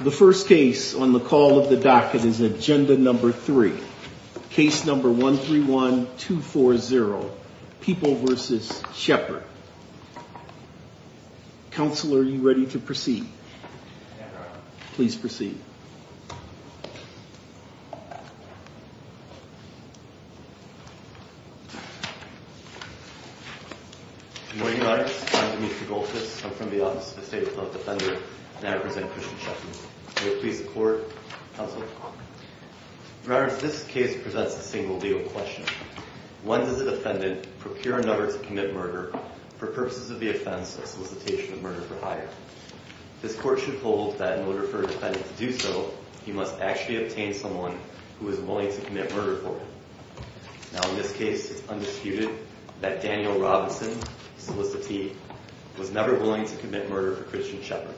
The first case on the call of the docket is Agenda No. 3, Case No. 131240, People v. Shepherd. Counselor, are you ready to proceed? Please proceed. Good morning, Your Honor. I'm Demetri Golkis. I'm from the Office of the State Appellate Defender, and I represent Christian Shepherd. May it please the Court, Counselor? Your Honor, this case presents a single legal question. When does a defendant procure a number to commit murder for purposes of the offense of solicitation of murder for hire? This Court should hold that in order for a defendant to do so, he must actually obtain someone who is willing to commit murder for him. Now, in this case, it's undisputed that Daniel Robinson, the solicitee, was never willing to commit murder for Christian Shepherd.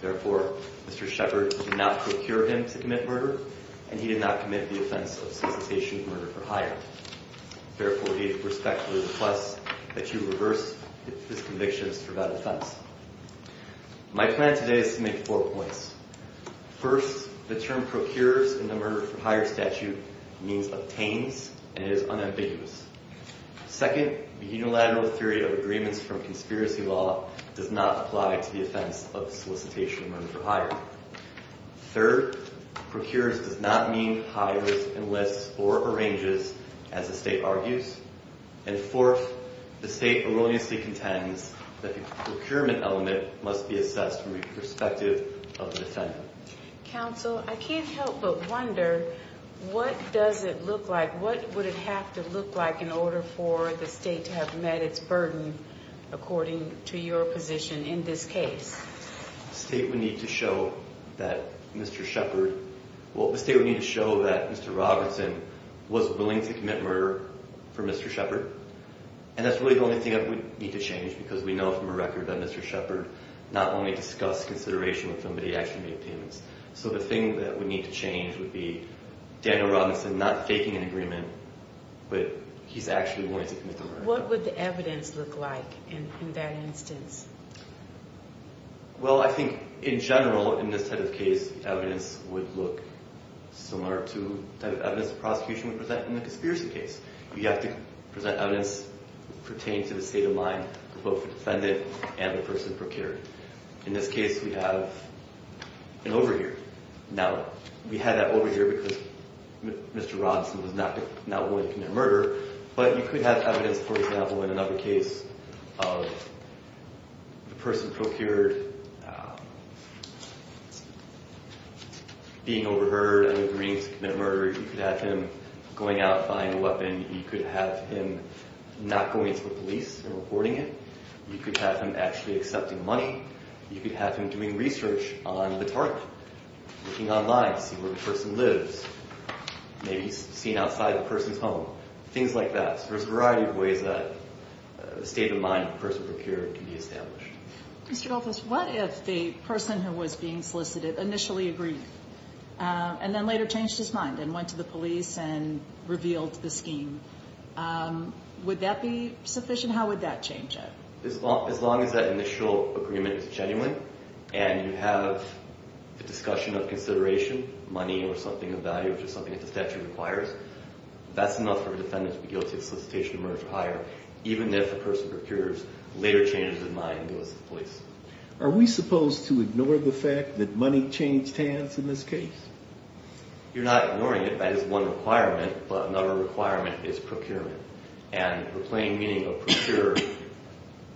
Therefore, Mr. Shepherd did not procure him to commit murder, and he did not commit the offense of solicitation of murder for hire. Therefore, he respectfully requests that you reverse his convictions for that offense. My plan today is to make four points. First, the term procures in the murder for hire statute means obtains, and it is unambiguous. Second, the unilateral theory of agreements from conspiracy law does not apply to the offense of solicitation of murder for hire. Third, procures does not mean hires, enlists, or arranges, as the State argues. And fourth, the State erroneously contends that the procurement element must be assessed from the perspective of the defendant. Counsel, I can't help but wonder, what does it look like, what would it have to look like in order for the State to have met its burden, according to your position in this case? The State would need to show that Mr. Shepherd, well, the State would need to show that Mr. Robinson was willing to commit murder for Mr. Shepherd. And that's really the only thing that would need to change, because we know from a record that Mr. Shepherd not only discussed consideration when somebody actually made payments. So the thing that would need to change would be Daniel Robinson not faking an agreement, but he's actually willing to commit the murder. What would the evidence look like in that instance? Well, I think in general, in this type of case, evidence would look similar to the type of evidence the prosecution would present in the conspiracy case. You have to present evidence pertaining to the state of mind of both the defendant and the person procured. In this case, we have an overhear. Now, we had that overhear because Mr. Robinson was not willing to commit murder. But you could have evidence, for example, in another case of the person procured being overheard and agreeing to commit murder. You could have him going out, buying a weapon. You could have him not going to the police and reporting it. You could have him actually accepting money. You could have him doing research on the target, looking online, seeing where the person lives, maybe seeing outside the person's home. Things like that. So there's a variety of ways that the state of mind of the person procured can be established. Mr. Dolphus, what if the person who was being solicited initially agreed and then later changed his mind and went to the police and revealed the scheme? Would that be sufficient? How would that change it? As long as that initial agreement is genuine and you have the discussion of consideration, money or something of value, which is something that the statute requires, that's enough for the defendant to be guilty of solicitation of murder or hire, even if the person procures, later changes his mind and goes to the police. Are we supposed to ignore the fact that money changed hands in this case? You're not ignoring it. That is one requirement. But another requirement is procurement. And the plain meaning of procure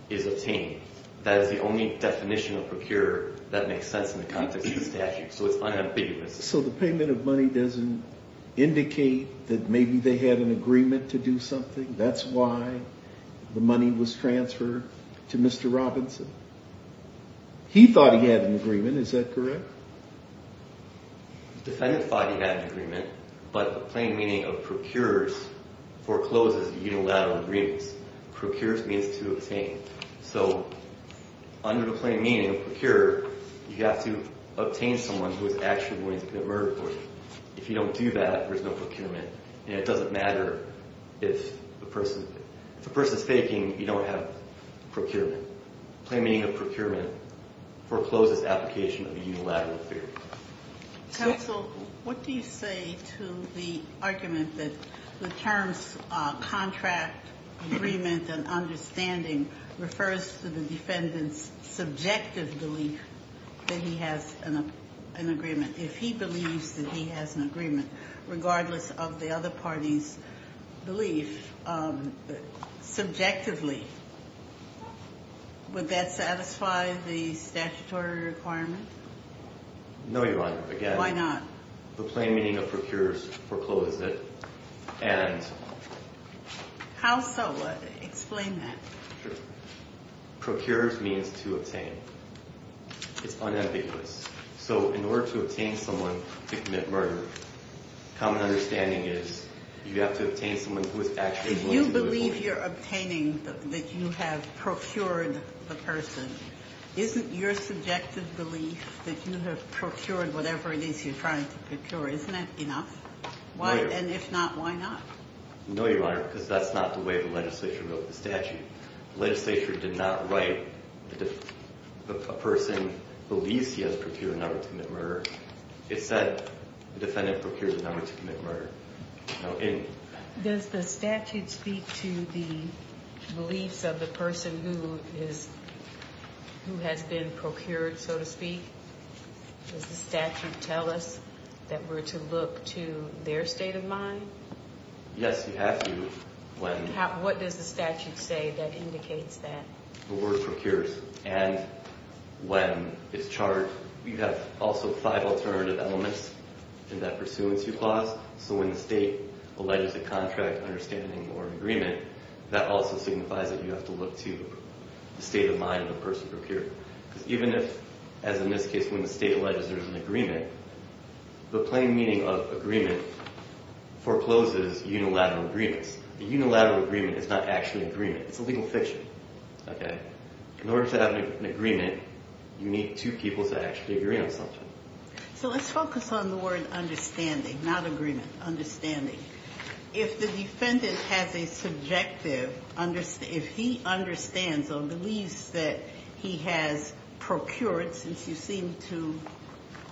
is obtained. That is the only definition of procure that makes sense in the context of the statute. So it's unambiguous. So the payment of money doesn't indicate that maybe they had an agreement to do something? That's why the money was transferred to Mr. Robinson? He thought he had an agreement. Is that correct? The defendant thought he had an agreement, but the plain meaning of procure forecloses unilateral agreements. Procure means to obtain. So under the plain meaning of procure, you have to obtain someone who is actually willing to commit murder for you. If you don't do that, there's no procurement. And it doesn't matter if the person's faking, you don't have procurement. The plain meaning of procurement forecloses application of a unilateral agreement. Counsel, what do you say to the argument that the terms contract agreement and understanding refers to the defendant's subjective belief that he has an agreement? If he believes that he has an agreement, regardless of the other party's belief, subjectively, would that satisfy the statutory requirement? No, Your Honor. Again. Why not? The plain meaning of procure forecloses it. How so? Explain that. Procure means to obtain. It's unambiguous. So in order to obtain someone to commit murder, common understanding is you have to obtain someone who is actually willing to do it for you. If you're obtaining that you have procured the person, isn't your subjective belief that you have procured whatever it is you're trying to procure, isn't that enough? No, Your Honor. And if not, why not? No, Your Honor, because that's not the way the legislature wrote the statute. Legislature did not write a person believes he has procured a number to commit murder. It said the defendant procured a number to commit murder. Does the statute speak to the beliefs of the person who has been procured, so to speak? Does the statute tell us that we're to look to their state of mind? Yes, you have to. What does the statute say that indicates that? The word procures. And when it's charged, you have also five alternative elements in that pursuant to clause. So when the state alleges a contract, understanding, or agreement, that also signifies that you have to look to the state of mind of the person procured. Because even if, as in this case, when the state alleges there's an agreement, the plain meaning of agreement forecloses unilateral agreements. A unilateral agreement is not actually an agreement. It's a legal fiction. Okay? In order to have an agreement, you need two people to actually agree on something. So let's focus on the word understanding, not agreement. Understanding. If the defendant has a subjective, if he understands or believes that he has procured, since you seem to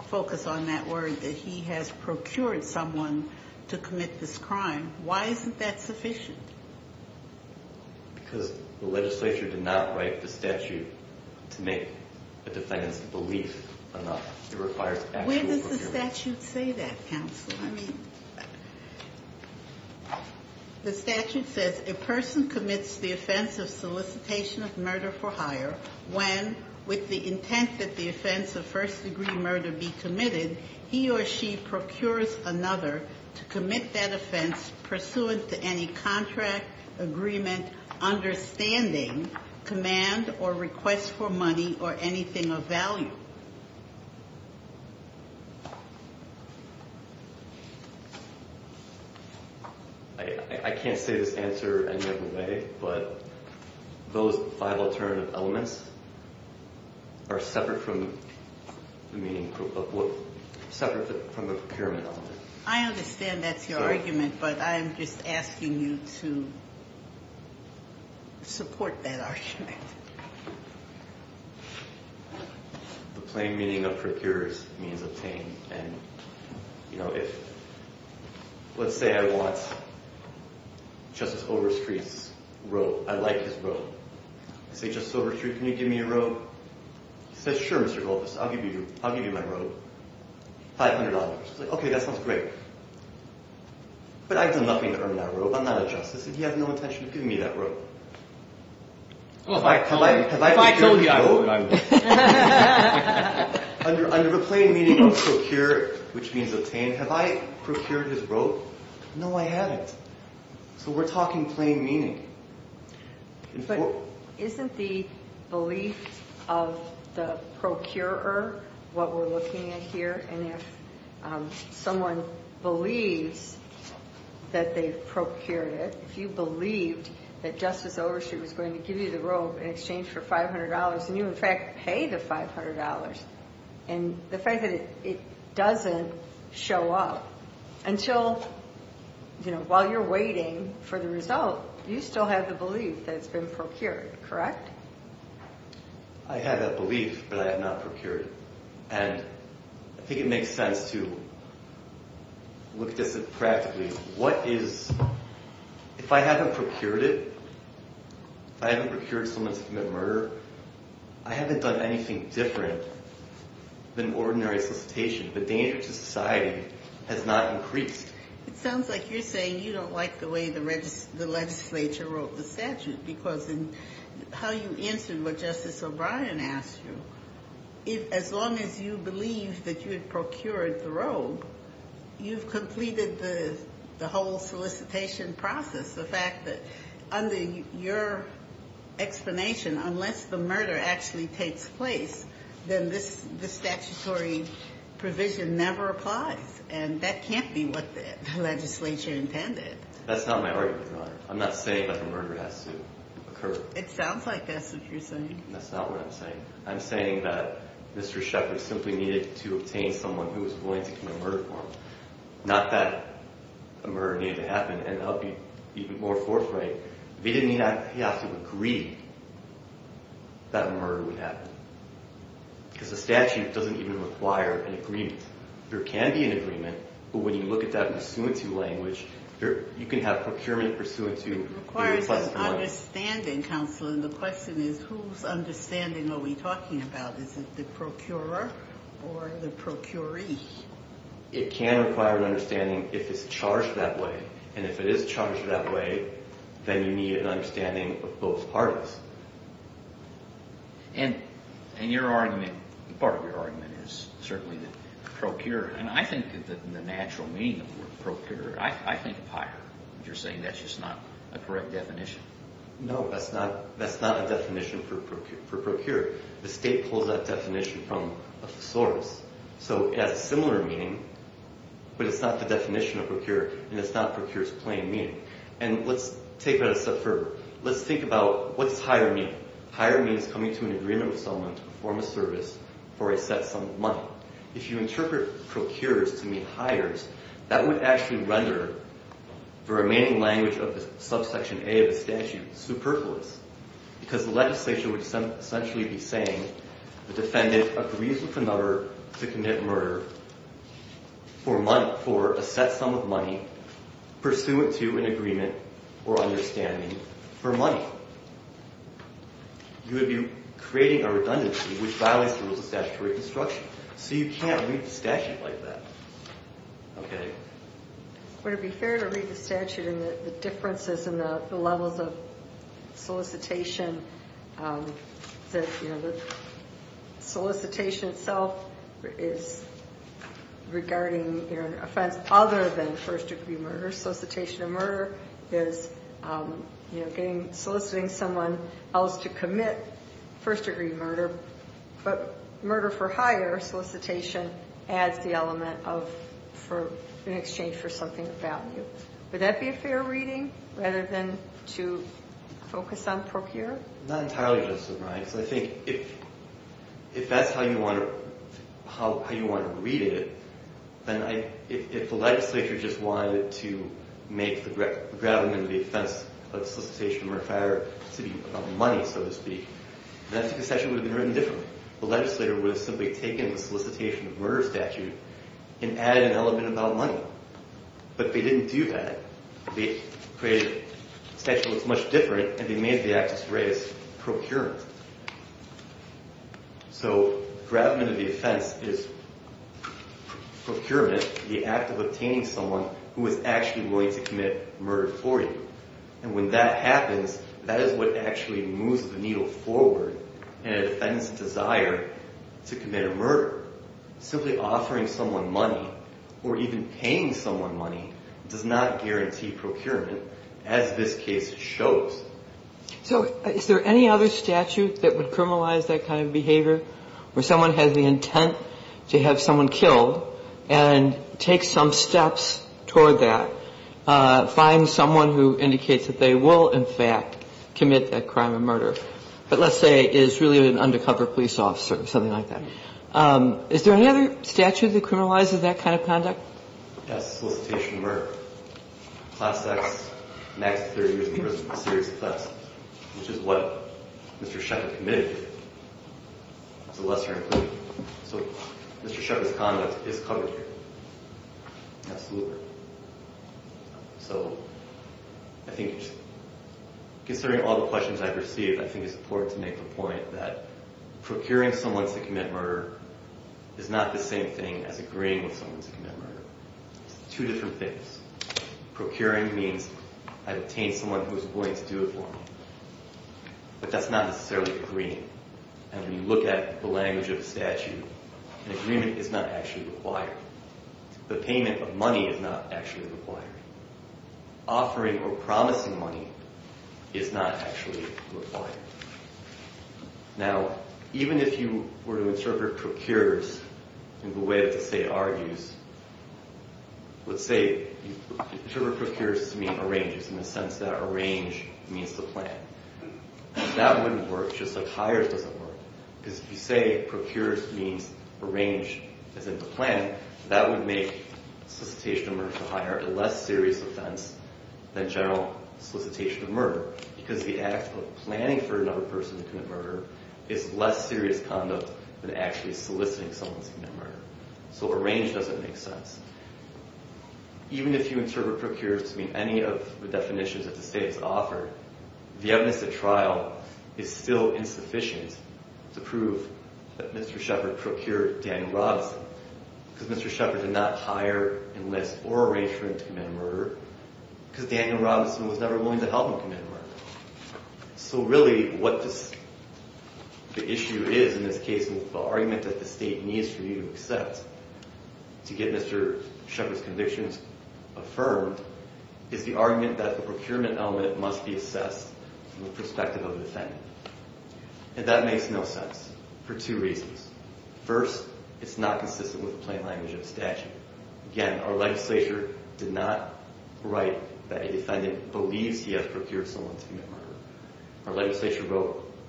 focus on that word, that he has procured someone to commit this crime, why isn't that sufficient? Because the legislature did not write the statute to make a defendant's belief enough. It requires actual procuring. Where does the statute say that, counsel? I mean, the statute says, a person commits the offense of solicitation of murder for hire when, with the intent that the offense of first-degree murder be committed, he or she procures another to commit that offense pursuant to any contract, agreement, understanding, command, or request for money or anything of value. I can't say this answer any other way, but those five alternative elements are separate from the meaning, separate from the procurement element. I understand that's your argument, but I'm just asking you to support that argument. The plain meaning of procure means obtain, and, you know, if, let's say I want Justice Overstreet's robe. I like his robe. I say, Justice Overstreet, can you give me your robe? He says, sure, Mr. Goldfuss, I'll give you my robe, $500. He's like, okay, that sounds great. But I've done nothing to earn that robe. I'm not a justice, and he has no intention of giving me that robe. Well, if I told you, I would. Under the plain meaning of procure, which means obtain, have I procured his robe? No, I haven't. So we're talking plain meaning. But isn't the belief of the procurer what we're looking at here? And if someone believes that they've procured it, if you believed that Justice Overstreet was going to give you the robe in exchange for $500, and you, in fact, pay the $500, and the fact that it doesn't show up until, you know, while you're waiting for the result, you still have the belief that it's been procured, correct? I have that belief, but I have not procured it. And I think it makes sense to look at this practically. If I haven't procured it, if I haven't procured someone to commit murder, I haven't done anything different than ordinary solicitation. The danger to society has not increased. It sounds like you're saying you don't like the way the legislature wrote the statute, because in how you answered what Justice O'Brien asked you, as long as you believe that you have procured the robe, you've completed the whole solicitation process. The fact that under your explanation, unless the murder actually takes place, then this statutory provision never applies. And that can't be what the legislature intended. That's not my argument, Your Honor. I'm not saying that the murder has to occur. It sounds like that's what you're saying. That's not what I'm saying. I'm saying that Mr. Shepard simply needed to obtain someone who was willing to commit murder for him. Not that a murder needed to happen, and I'll be even more forthright. He didn't have to agree that a murder would happen. Because the statute doesn't even require an agreement. There can be an agreement, but when you look at that pursuant to language, you can have procurement pursuant to a request for money. Understanding, Counselor, and the question is whose understanding are we talking about? Is it the procurer or the procuree? It can require an understanding if it's charged that way. And if it is charged that way, then you need an understanding of both parts. And your argument, part of your argument is certainly the procurer. And I think that the natural meaning of the word procure, I think of hire. You're saying that's just not a correct definition. No, that's not a definition for procure. The state pulls that definition from a thesaurus. So it has a similar meaning, but it's not the definition of procure, and it's not procure's plain meaning. And let's take that a step further. Let's think about what does hire mean. Hire means coming to an agreement with someone to perform a service for a set sum of money. If you interpret procure to mean hires, that would actually render the remaining language of the subsection A of the statute superfluous because the legislation would essentially be saying the defendant agrees with the number to commit murder for a set sum of money pursuant to an agreement or understanding for money. So you would be creating a redundancy which violates the rules of statutory construction. So you can't read the statute like that. Would it be fair to read the statute and the differences in the levels of solicitation? The solicitation itself is regarding an offense other than first degree murder. Solicitation of murder is soliciting someone else to commit first degree murder, but murder for hire solicitation adds the element in exchange for something of value. Would that be a fair reading rather than to focus on procure? Not entirely, Justice O'Brien, because I think if that's how you want to read it, then if the legislature just wanted to make the gravamen of the offense of solicitation of murder for hire to be about money, so to speak, then the statute would have been written differently. The legislator would have simply taken the solicitation of murder statute and added an element about money. But they didn't do that. They created a statute that was much different, and they made the act as raised procurement. So gravamen of the offense is procurement, the act of obtaining someone who is actually willing to commit murder for you. And when that happens, that is what actually moves the needle forward in a defendant's desire to commit a murder. Simply offering someone money or even paying someone money does not guarantee procurement, as this case shows. So is there any other statute that would criminalize that kind of behavior where someone has the intent to have someone killed and take some steps toward that, find someone who indicates that they will, in fact, commit that crime of murder, but let's say is really an undercover police officer or something like that? Is there any other statute that criminalizes that kind of conduct? Yes, solicitation of murder. Class X, max 30 years in prison, a serious offense, which is what Mr. Schechter committed. It's a lesser inclusion. So Mr. Schechter's conduct is covered here. Absolutely. So I think, considering all the questions I've received, I think it's important to make the point that procuring someone to commit murder is not the same thing as agreeing with someone to commit murder. It's two different things. Procuring means I've obtained someone who is willing to do it for me, but that's not necessarily agreeing. And when you look at the language of the statute, an agreement is not actually required. The payment of money is not actually required. Offering or promising money is not actually required. Now, even if you were to interpret procures in the way that the state argues, let's say you interpret procures to mean arranges in the sense that arrange means to plan. That wouldn't work just like hire doesn't work. Because if you say procures means arrange, as in to plan, that would make solicitation of murder to hire a less serious offense than general solicitation of murder because the act of planning for another person to commit murder is less serious conduct than actually soliciting someone to commit murder. So arrange doesn't make sense. Even if you interpret procures to mean any of the definitions that the state has offered, the evidence at trial is still insufficient to prove that Mr. Shepard procured Daniel Robinson because Mr. Shepard did not hire, enlist, or arrange for him to commit murder because Daniel Robinson was never willing to help him commit murder. So really what the issue is in this case with the argument that the state needs for you to accept to get Mr. Shepard's convictions affirmed is the argument that the procurement element must be assessed from the perspective of the defendant. And that makes no sense for two reasons. First, it's not consistent with the plain language of the statute. Second, again, our legislature did not write that a defendant believes he has procured someone to commit murder. Our legislature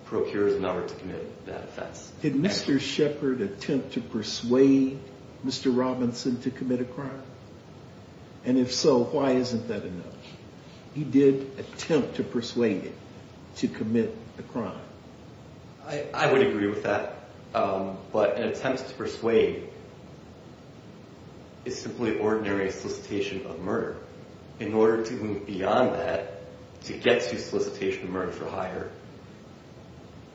procures in order to commit that offense. Did Mr. Shepard attempt to persuade Mr. Robinson to commit a crime? And if so, why isn't that enough? He did attempt to persuade him to commit a crime. I would agree with that. But an attempt to persuade is simply ordinary solicitation of murder. In order to move beyond that, to get to solicitation of murder for hire,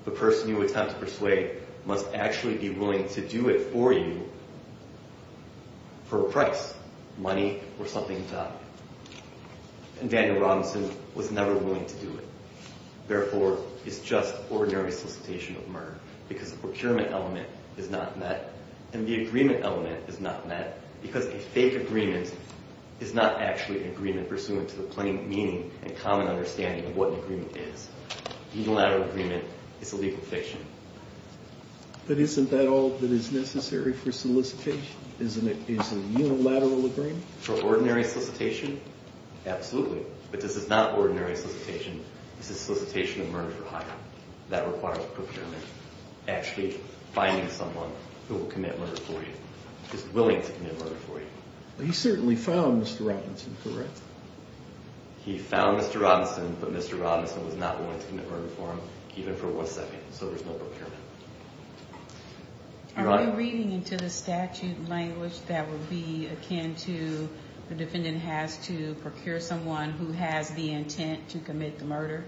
the person you attempt to persuade must actually be willing to do it for you for a price, money or something to top it. And Daniel Robinson was never willing to do it. Therefore, it's just ordinary solicitation of murder because the procurement element is not met and the agreement element is not met because a fake agreement is not actually an agreement pursuant to the plain meaning and common understanding of what an agreement is. Unilateral agreement is a legal fiction. But isn't that all that is necessary for solicitation? Isn't it a unilateral agreement? For ordinary solicitation, absolutely. But this is not ordinary solicitation. This is solicitation of murder for hire. That requires procurement, actually finding someone who will commit murder for you, who is willing to commit murder for you. He certainly found Mr. Robinson, correct? He found Mr. Robinson, but Mr. Robinson was not willing to commit murder for him, even for one second. So there's no procurement. Are we reading into the statute language that would be akin to the defendant has to procure someone who has the intent to commit the murder?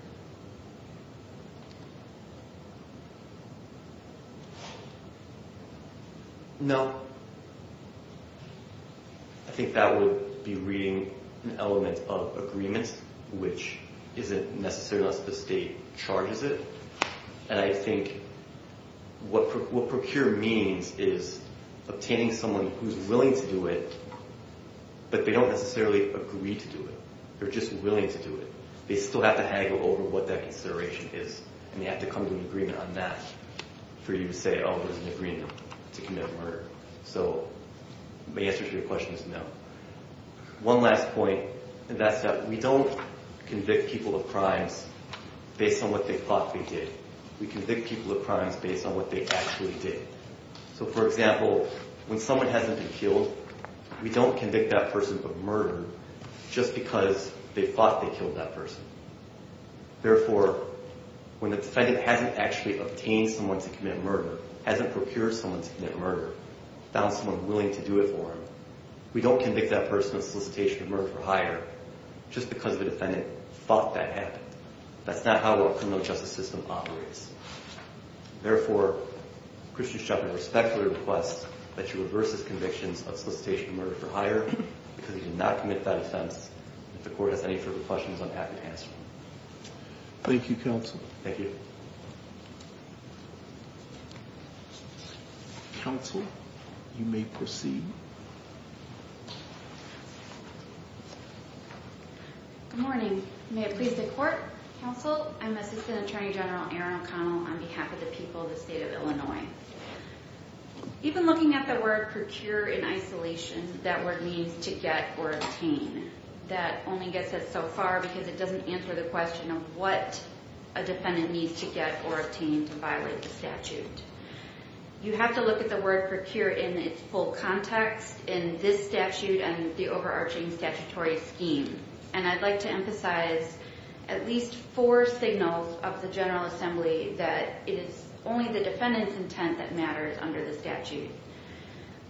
No. I think that would be reading an element of agreement, which isn't necessary unless the state charges it. And I think what procure means is obtaining someone who's willing to do it, but they don't necessarily agree to do it. They're just willing to do it. They still have to haggle over what that consideration is, and they have to come to an agreement on that for you to say, oh, there's an agreement to commit murder. So my answer to your question is no. One last point, and that's that we don't convict people of crimes based on what they thought they did. We convict people of crimes based on what they actually did. So, for example, when someone hasn't been killed, we don't convict that person of murder just because they thought they killed that person. Therefore, when the defendant hasn't actually obtained someone to commit murder, hasn't procured someone to commit murder, found someone willing to do it for him, we don't convict that person of solicitation of murder for hire just because the defendant thought that happened. That's not how our criminal justice system operates. Therefore, Christian Shepard respectfully requests that you reverse his convictions of solicitation of murder for hire because he did not commit that offense, and if the court has any further questions, I'm happy to answer them. Thank you, counsel. Thank you. Counsel, you may proceed. Good morning. May it please the court. Counsel, I'm Assistant Attorney General Erin O'Connell on behalf of the people of the state of Illinois. Even looking at the word procure in isolation, that word means to get or obtain. That only gets us so far because it doesn't answer the question of what a defendant needs to get or obtain to violate the statute. You have to look at the word procure in its full context in this statute and the overarching statutory scheme, and I'd like to emphasize at least four signals of the General Assembly that it is only the defendant's intent that matters under the statute.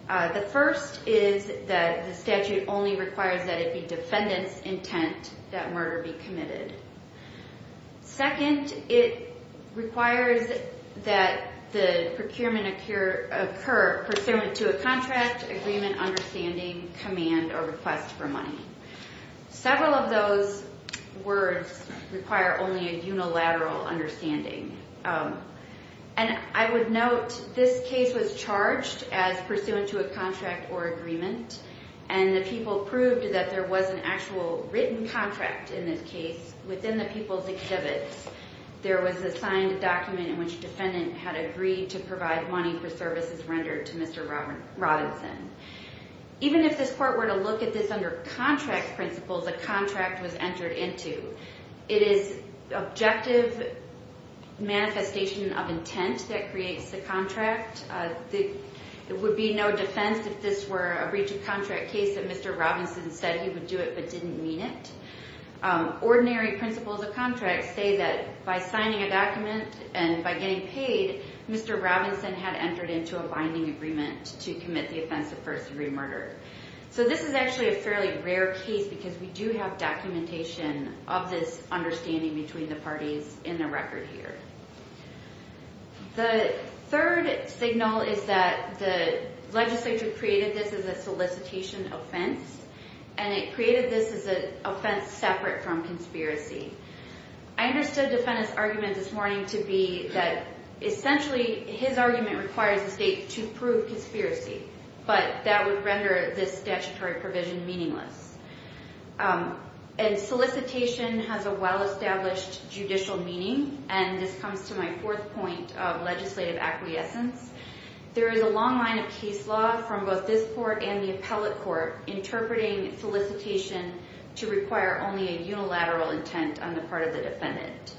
The first is that the statute only requires that it be defendant's intent that murder be committed. Second, it requires that the procurement occur pursuant to a contract, agreement, understanding, command, or request for money. Several of those words require only a unilateral understanding, and I would note this case was charged as pursuant to a contract or agreement, and the people proved that there was an actual written contract in this case. Within the people's exhibits, there was assigned a document in which defendant had agreed to provide money for services rendered to Mr. Robinson. Even if this court were to look at this under contract principles, a contract was entered into, it is objective manifestation of intent that creates the contract. It would be no defense if this were a breach of contract case that Mr. Robinson said he would do it but didn't mean it. Ordinary principles of contract say that by signing a document and by getting paid, Mr. Robinson had entered into a binding agreement to commit the offense of first degree murder. So this is actually a fairly rare case because we do have documentation of this understanding between the parties in the record here. The third signal is that the legislature created this as a solicitation offense, and it created this as an offense separate from conspiracy. I understood defendant's argument this morning to be that essentially, his argument requires the state to prove conspiracy, but that would render this statutory provision meaningless. And solicitation has a well-established judicial meaning, and this comes to my fourth point of legislative acquiescence. There is a long line of case law from both this court and the appellate court interpreting solicitation to require only a unilateral intent on the part of the defendant.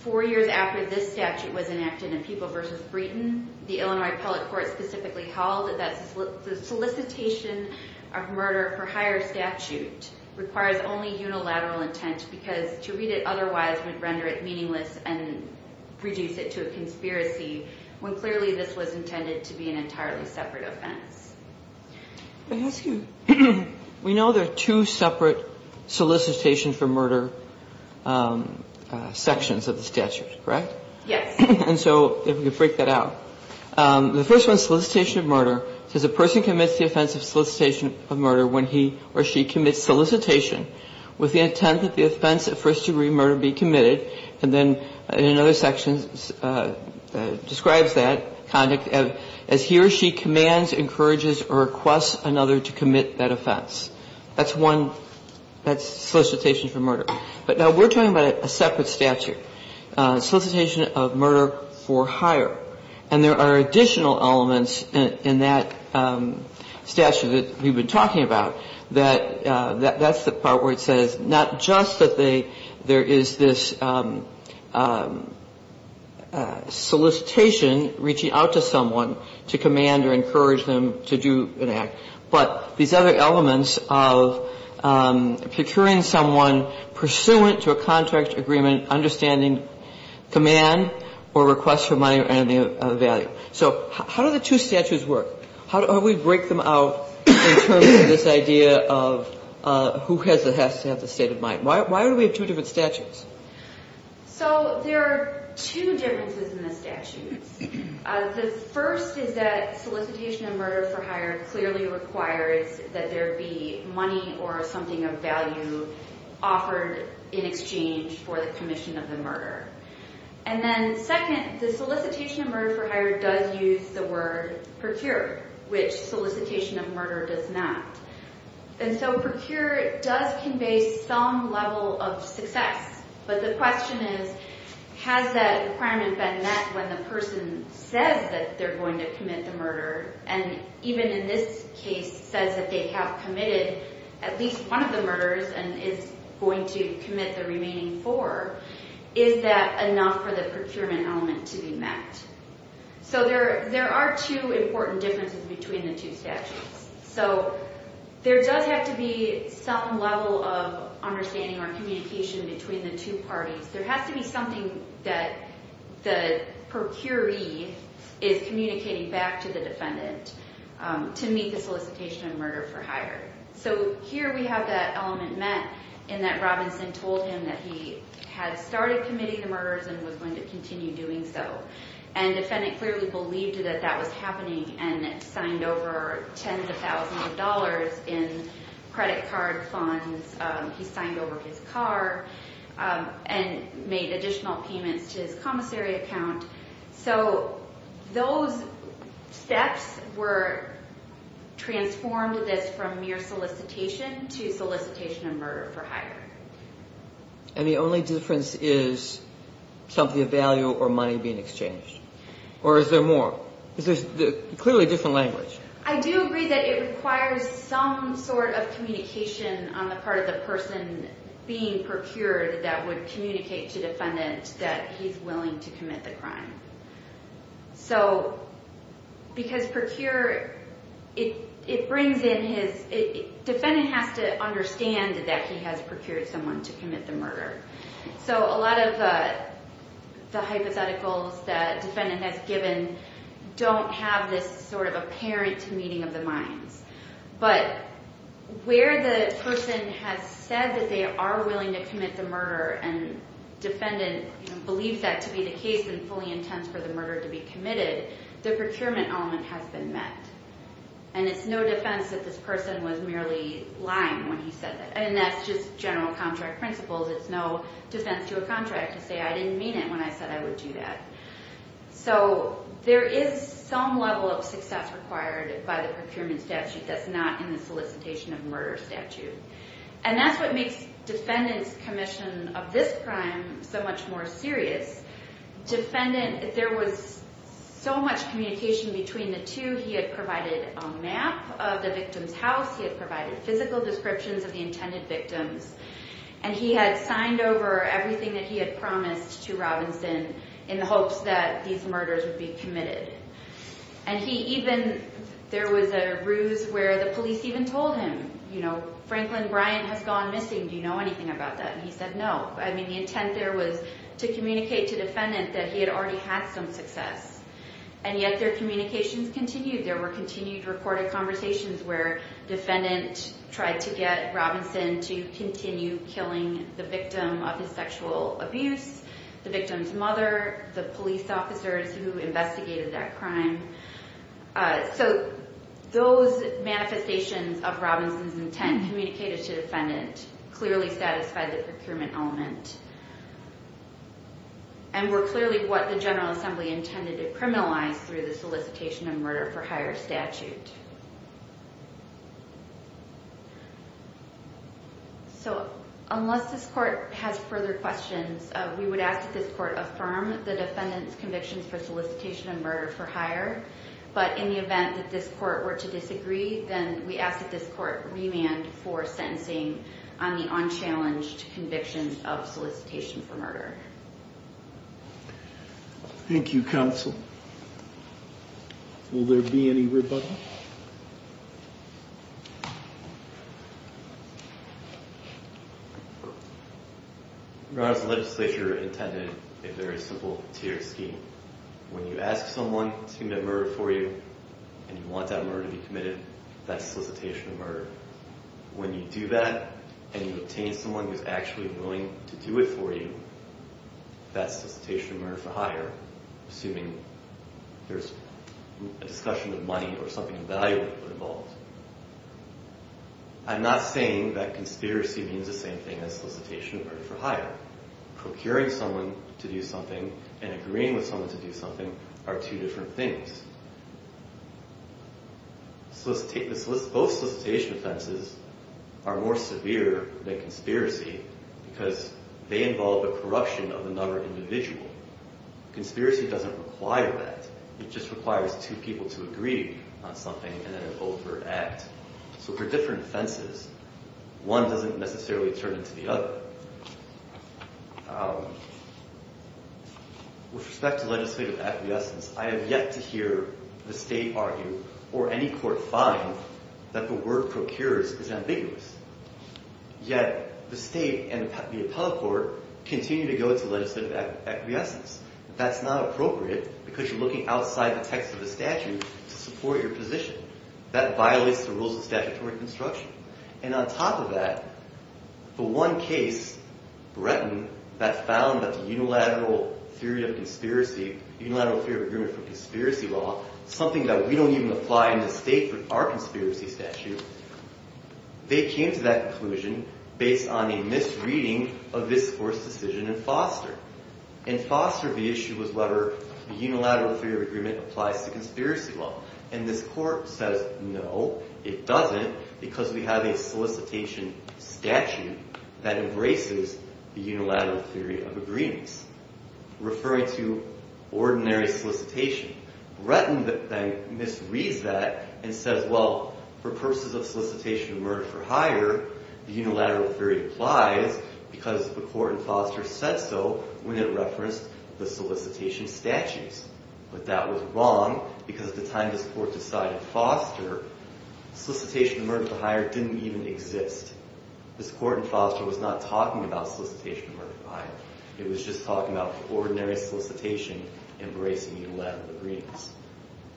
Four years after this statute was enacted in People v. Breeden, the Illinois appellate court specifically held that the solicitation of murder for higher statute requires only unilateral intent because to read it otherwise would render it meaningless and reduce it to a conspiracy when clearly this was intended to be an entirely separate offense. I ask you, we know there are two separate solicitation for murder sections of the statute, correct? Yes. And so if we could break that out. The first one, solicitation of murder, says a person commits the offense of solicitation of murder when he or she commits solicitation with the intent that the offense of first-degree murder be committed. And then another section describes that conduct as he or she commands, encourages, or requests another to commit that offense. That's one. That's solicitation for murder. But now we're talking about a separate statute, solicitation of murder for higher. And there are additional elements in that statute that we've been talking about that that's the part where it says not just that there is this solicitation reaching out to someone to command or encourage them to do an act, but these other elements of procuring someone pursuant to a contract agreement understanding command or request for money or any other value. So how do the two statutes work? How do we break them out in terms of this idea of who has to have the state of mind? Why do we have two different statutes? So there are two differences in the statutes. The first is that solicitation of murder for higher clearly requires that there be money or something of value offered in exchange for the commission of the murder. And then second, the solicitation of murder for higher does use the word procure, which solicitation of murder does not. And so procure does convey some level of success, but the question is has that requirement been met when the person says that they're going to commit the murder and even in this case says that they have committed at least one of the murders and is going to commit the remaining four. Is that enough for the procurement element to be met? So there are two important differences between the two statutes. So there does have to be some level of understanding or communication between the two parties. There has to be something that the procuree is communicating back to the defendant to meet the solicitation of murder for higher. So here we have that element met in that Robinson told him that he had started committing the murders and was going to continue doing so. And the defendant clearly believed that that was happening and signed over tens of thousands of dollars in credit card funds. He signed over his car and made additional payments to his commissary account. So those steps were transformed from mere solicitation to solicitation of murder for higher. And the only difference is something of value or money being exchanged? Or is there more? There's clearly a different language. I do agree that it requires some sort of communication on the part of the person being procured that would communicate to the defendant that he's willing to commit the crime. So because procure, it brings in his – defendant has to understand that he has procured someone to commit the murder. So a lot of the hypotheticals that defendant has given don't have this sort of apparent meeting of the minds. But where the person has said that they are willing to commit the murder and defendant believes that to be the case and fully intends for the murder to be committed, the procurement element has been met. And it's no defense that this person was merely lying when he said that. And that's just general contract principles. It's no defense to a contract to say I didn't mean it when I said I would do that. So there is some level of success required by the procurement statute that's not in the solicitation of murder statute. And that's what makes defendant's commission of this crime so much more serious. Defendant – there was so much communication between the two. He had provided a map of the victim's house. He had provided physical descriptions of the intended victims. And he had signed over everything that he had promised to Robinson in the hopes that these murders would be committed. And he even – there was a ruse where the police even told him, you know, Franklin Bryant has gone missing. Do you know anything about that? And he said no. I mean, the intent there was to communicate to defendant that he had already had some success. And yet their communications continued. There were continued recorded conversations where defendant tried to get Robinson to continue killing the victim of his sexual abuse, the victim's mother, the police officers who investigated that crime. So those manifestations of Robinson's intent communicated to defendant clearly satisfied the procurement element and were clearly what the General Assembly intended to criminalize through the solicitation of murder for hire statute. So unless this court has further questions, we would ask that this court affirm the defendant's convictions for solicitation of murder for hire. But in the event that this court were to disagree, then we ask that this court remand for sentencing on the unchallenged convictions of solicitation for murder. Thank you, counsel. Will there be any rebuttal? Your Honor, the legislature intended a very simple tier scheme. When you ask someone to commit murder for you and you want that murder to be committed, that's solicitation of murder. When you do that and you obtain someone who's actually willing to do it for you, that's solicitation of murder for hire, assuming there's a discussion of money or something of value involved. I'm not saying that conspiracy means the same thing as solicitation of murder for hire. Procuring someone to do something and agreeing with someone to do something are two different things. Both solicitation offenses are more severe than conspiracy because they involve a corruption of a number of individuals. Conspiracy doesn't require that. It just requires two people to agree on something and then overact. So they're different offenses. One doesn't necessarily turn into the other. With respect to legislative acquiescence, I have yet to hear the state argue or any court find that the word procures is ambiguous. Yet the state and the appellate court continue to go to legislative acquiescence. That's not appropriate because you're looking outside the text of the statute to support your position. That violates the rules of statutory construction. And on top of that, the one case, Bretton, that found that the unilateral theory of agreement for conspiracy law, something that we don't even apply in the state for our conspiracy statute, they came to that conclusion based on a misreading of this court's decision in Foster. In Foster, the issue was whether the unilateral theory of agreement applies to conspiracy law. And this court says, no, it doesn't because we have a solicitation statute that embraces the unilateral theory of agreements. Referring to ordinary solicitation, Bretton then misreads that and says, well, for purposes of solicitation of murder for hire, the unilateral theory applies because the court in Foster said so when it referenced the solicitation statutes. But that was wrong because at the time this court decided Foster, solicitation of murder for hire didn't even exist. This court in Foster was not talking about solicitation of murder for hire. It was just talking about ordinary solicitation embracing unilateral agreements.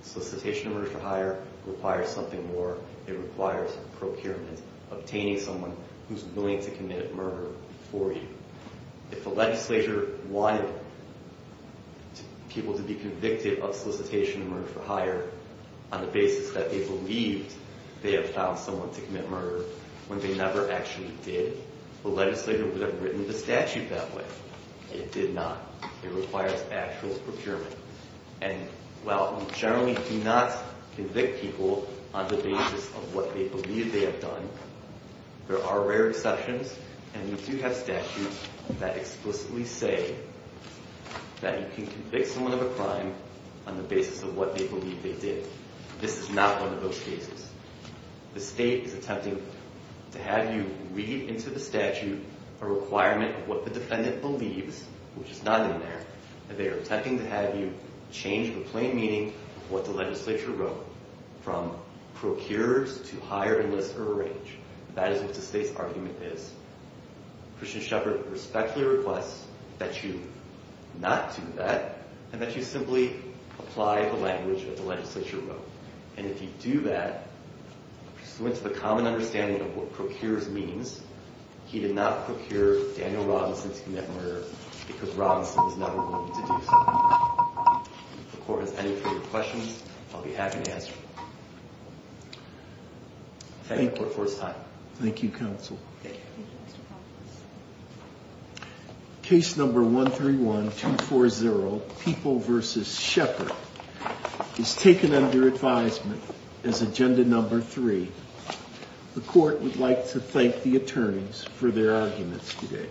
Solicitation of murder for hire requires something more. It requires procurement, obtaining someone who's willing to commit murder for you. If the legislature wanted people to be convicted of solicitation of murder for hire on the basis that they believed they have found someone to commit murder when they never actually did, the legislature would have written the statute that way. It did not. It requires actual procurement. And while we generally do not convict people on the basis of what they believe they have done, there are rare exceptions, and we do have statutes that explicitly say that you can convict someone of a crime on the basis of what they believe they did. This is not one of those cases. The state is attempting to have you read into the statute a requirement of what the defendant believes, which is not in there, and they are attempting to have you change the plain meaning of what the legislature wrote from procures to hire, enlist, or arrange. That is what the state's argument is. Christian Shepard respectfully requests that you not do that and that you simply apply the language that the legislature wrote. And if you do that, pursuant to the common understanding of what procures means, he did not procure Daniel Robinson to commit murder because Robinson was never willing to do so. If the court has any further questions, I'll be happy to answer them. Thank you for your time. Thank you, counsel. Thank you. Case number 131240, People v. Shepard, is taken under advisement as agenda number three. The court would like to thank the attorneys for their arguments today.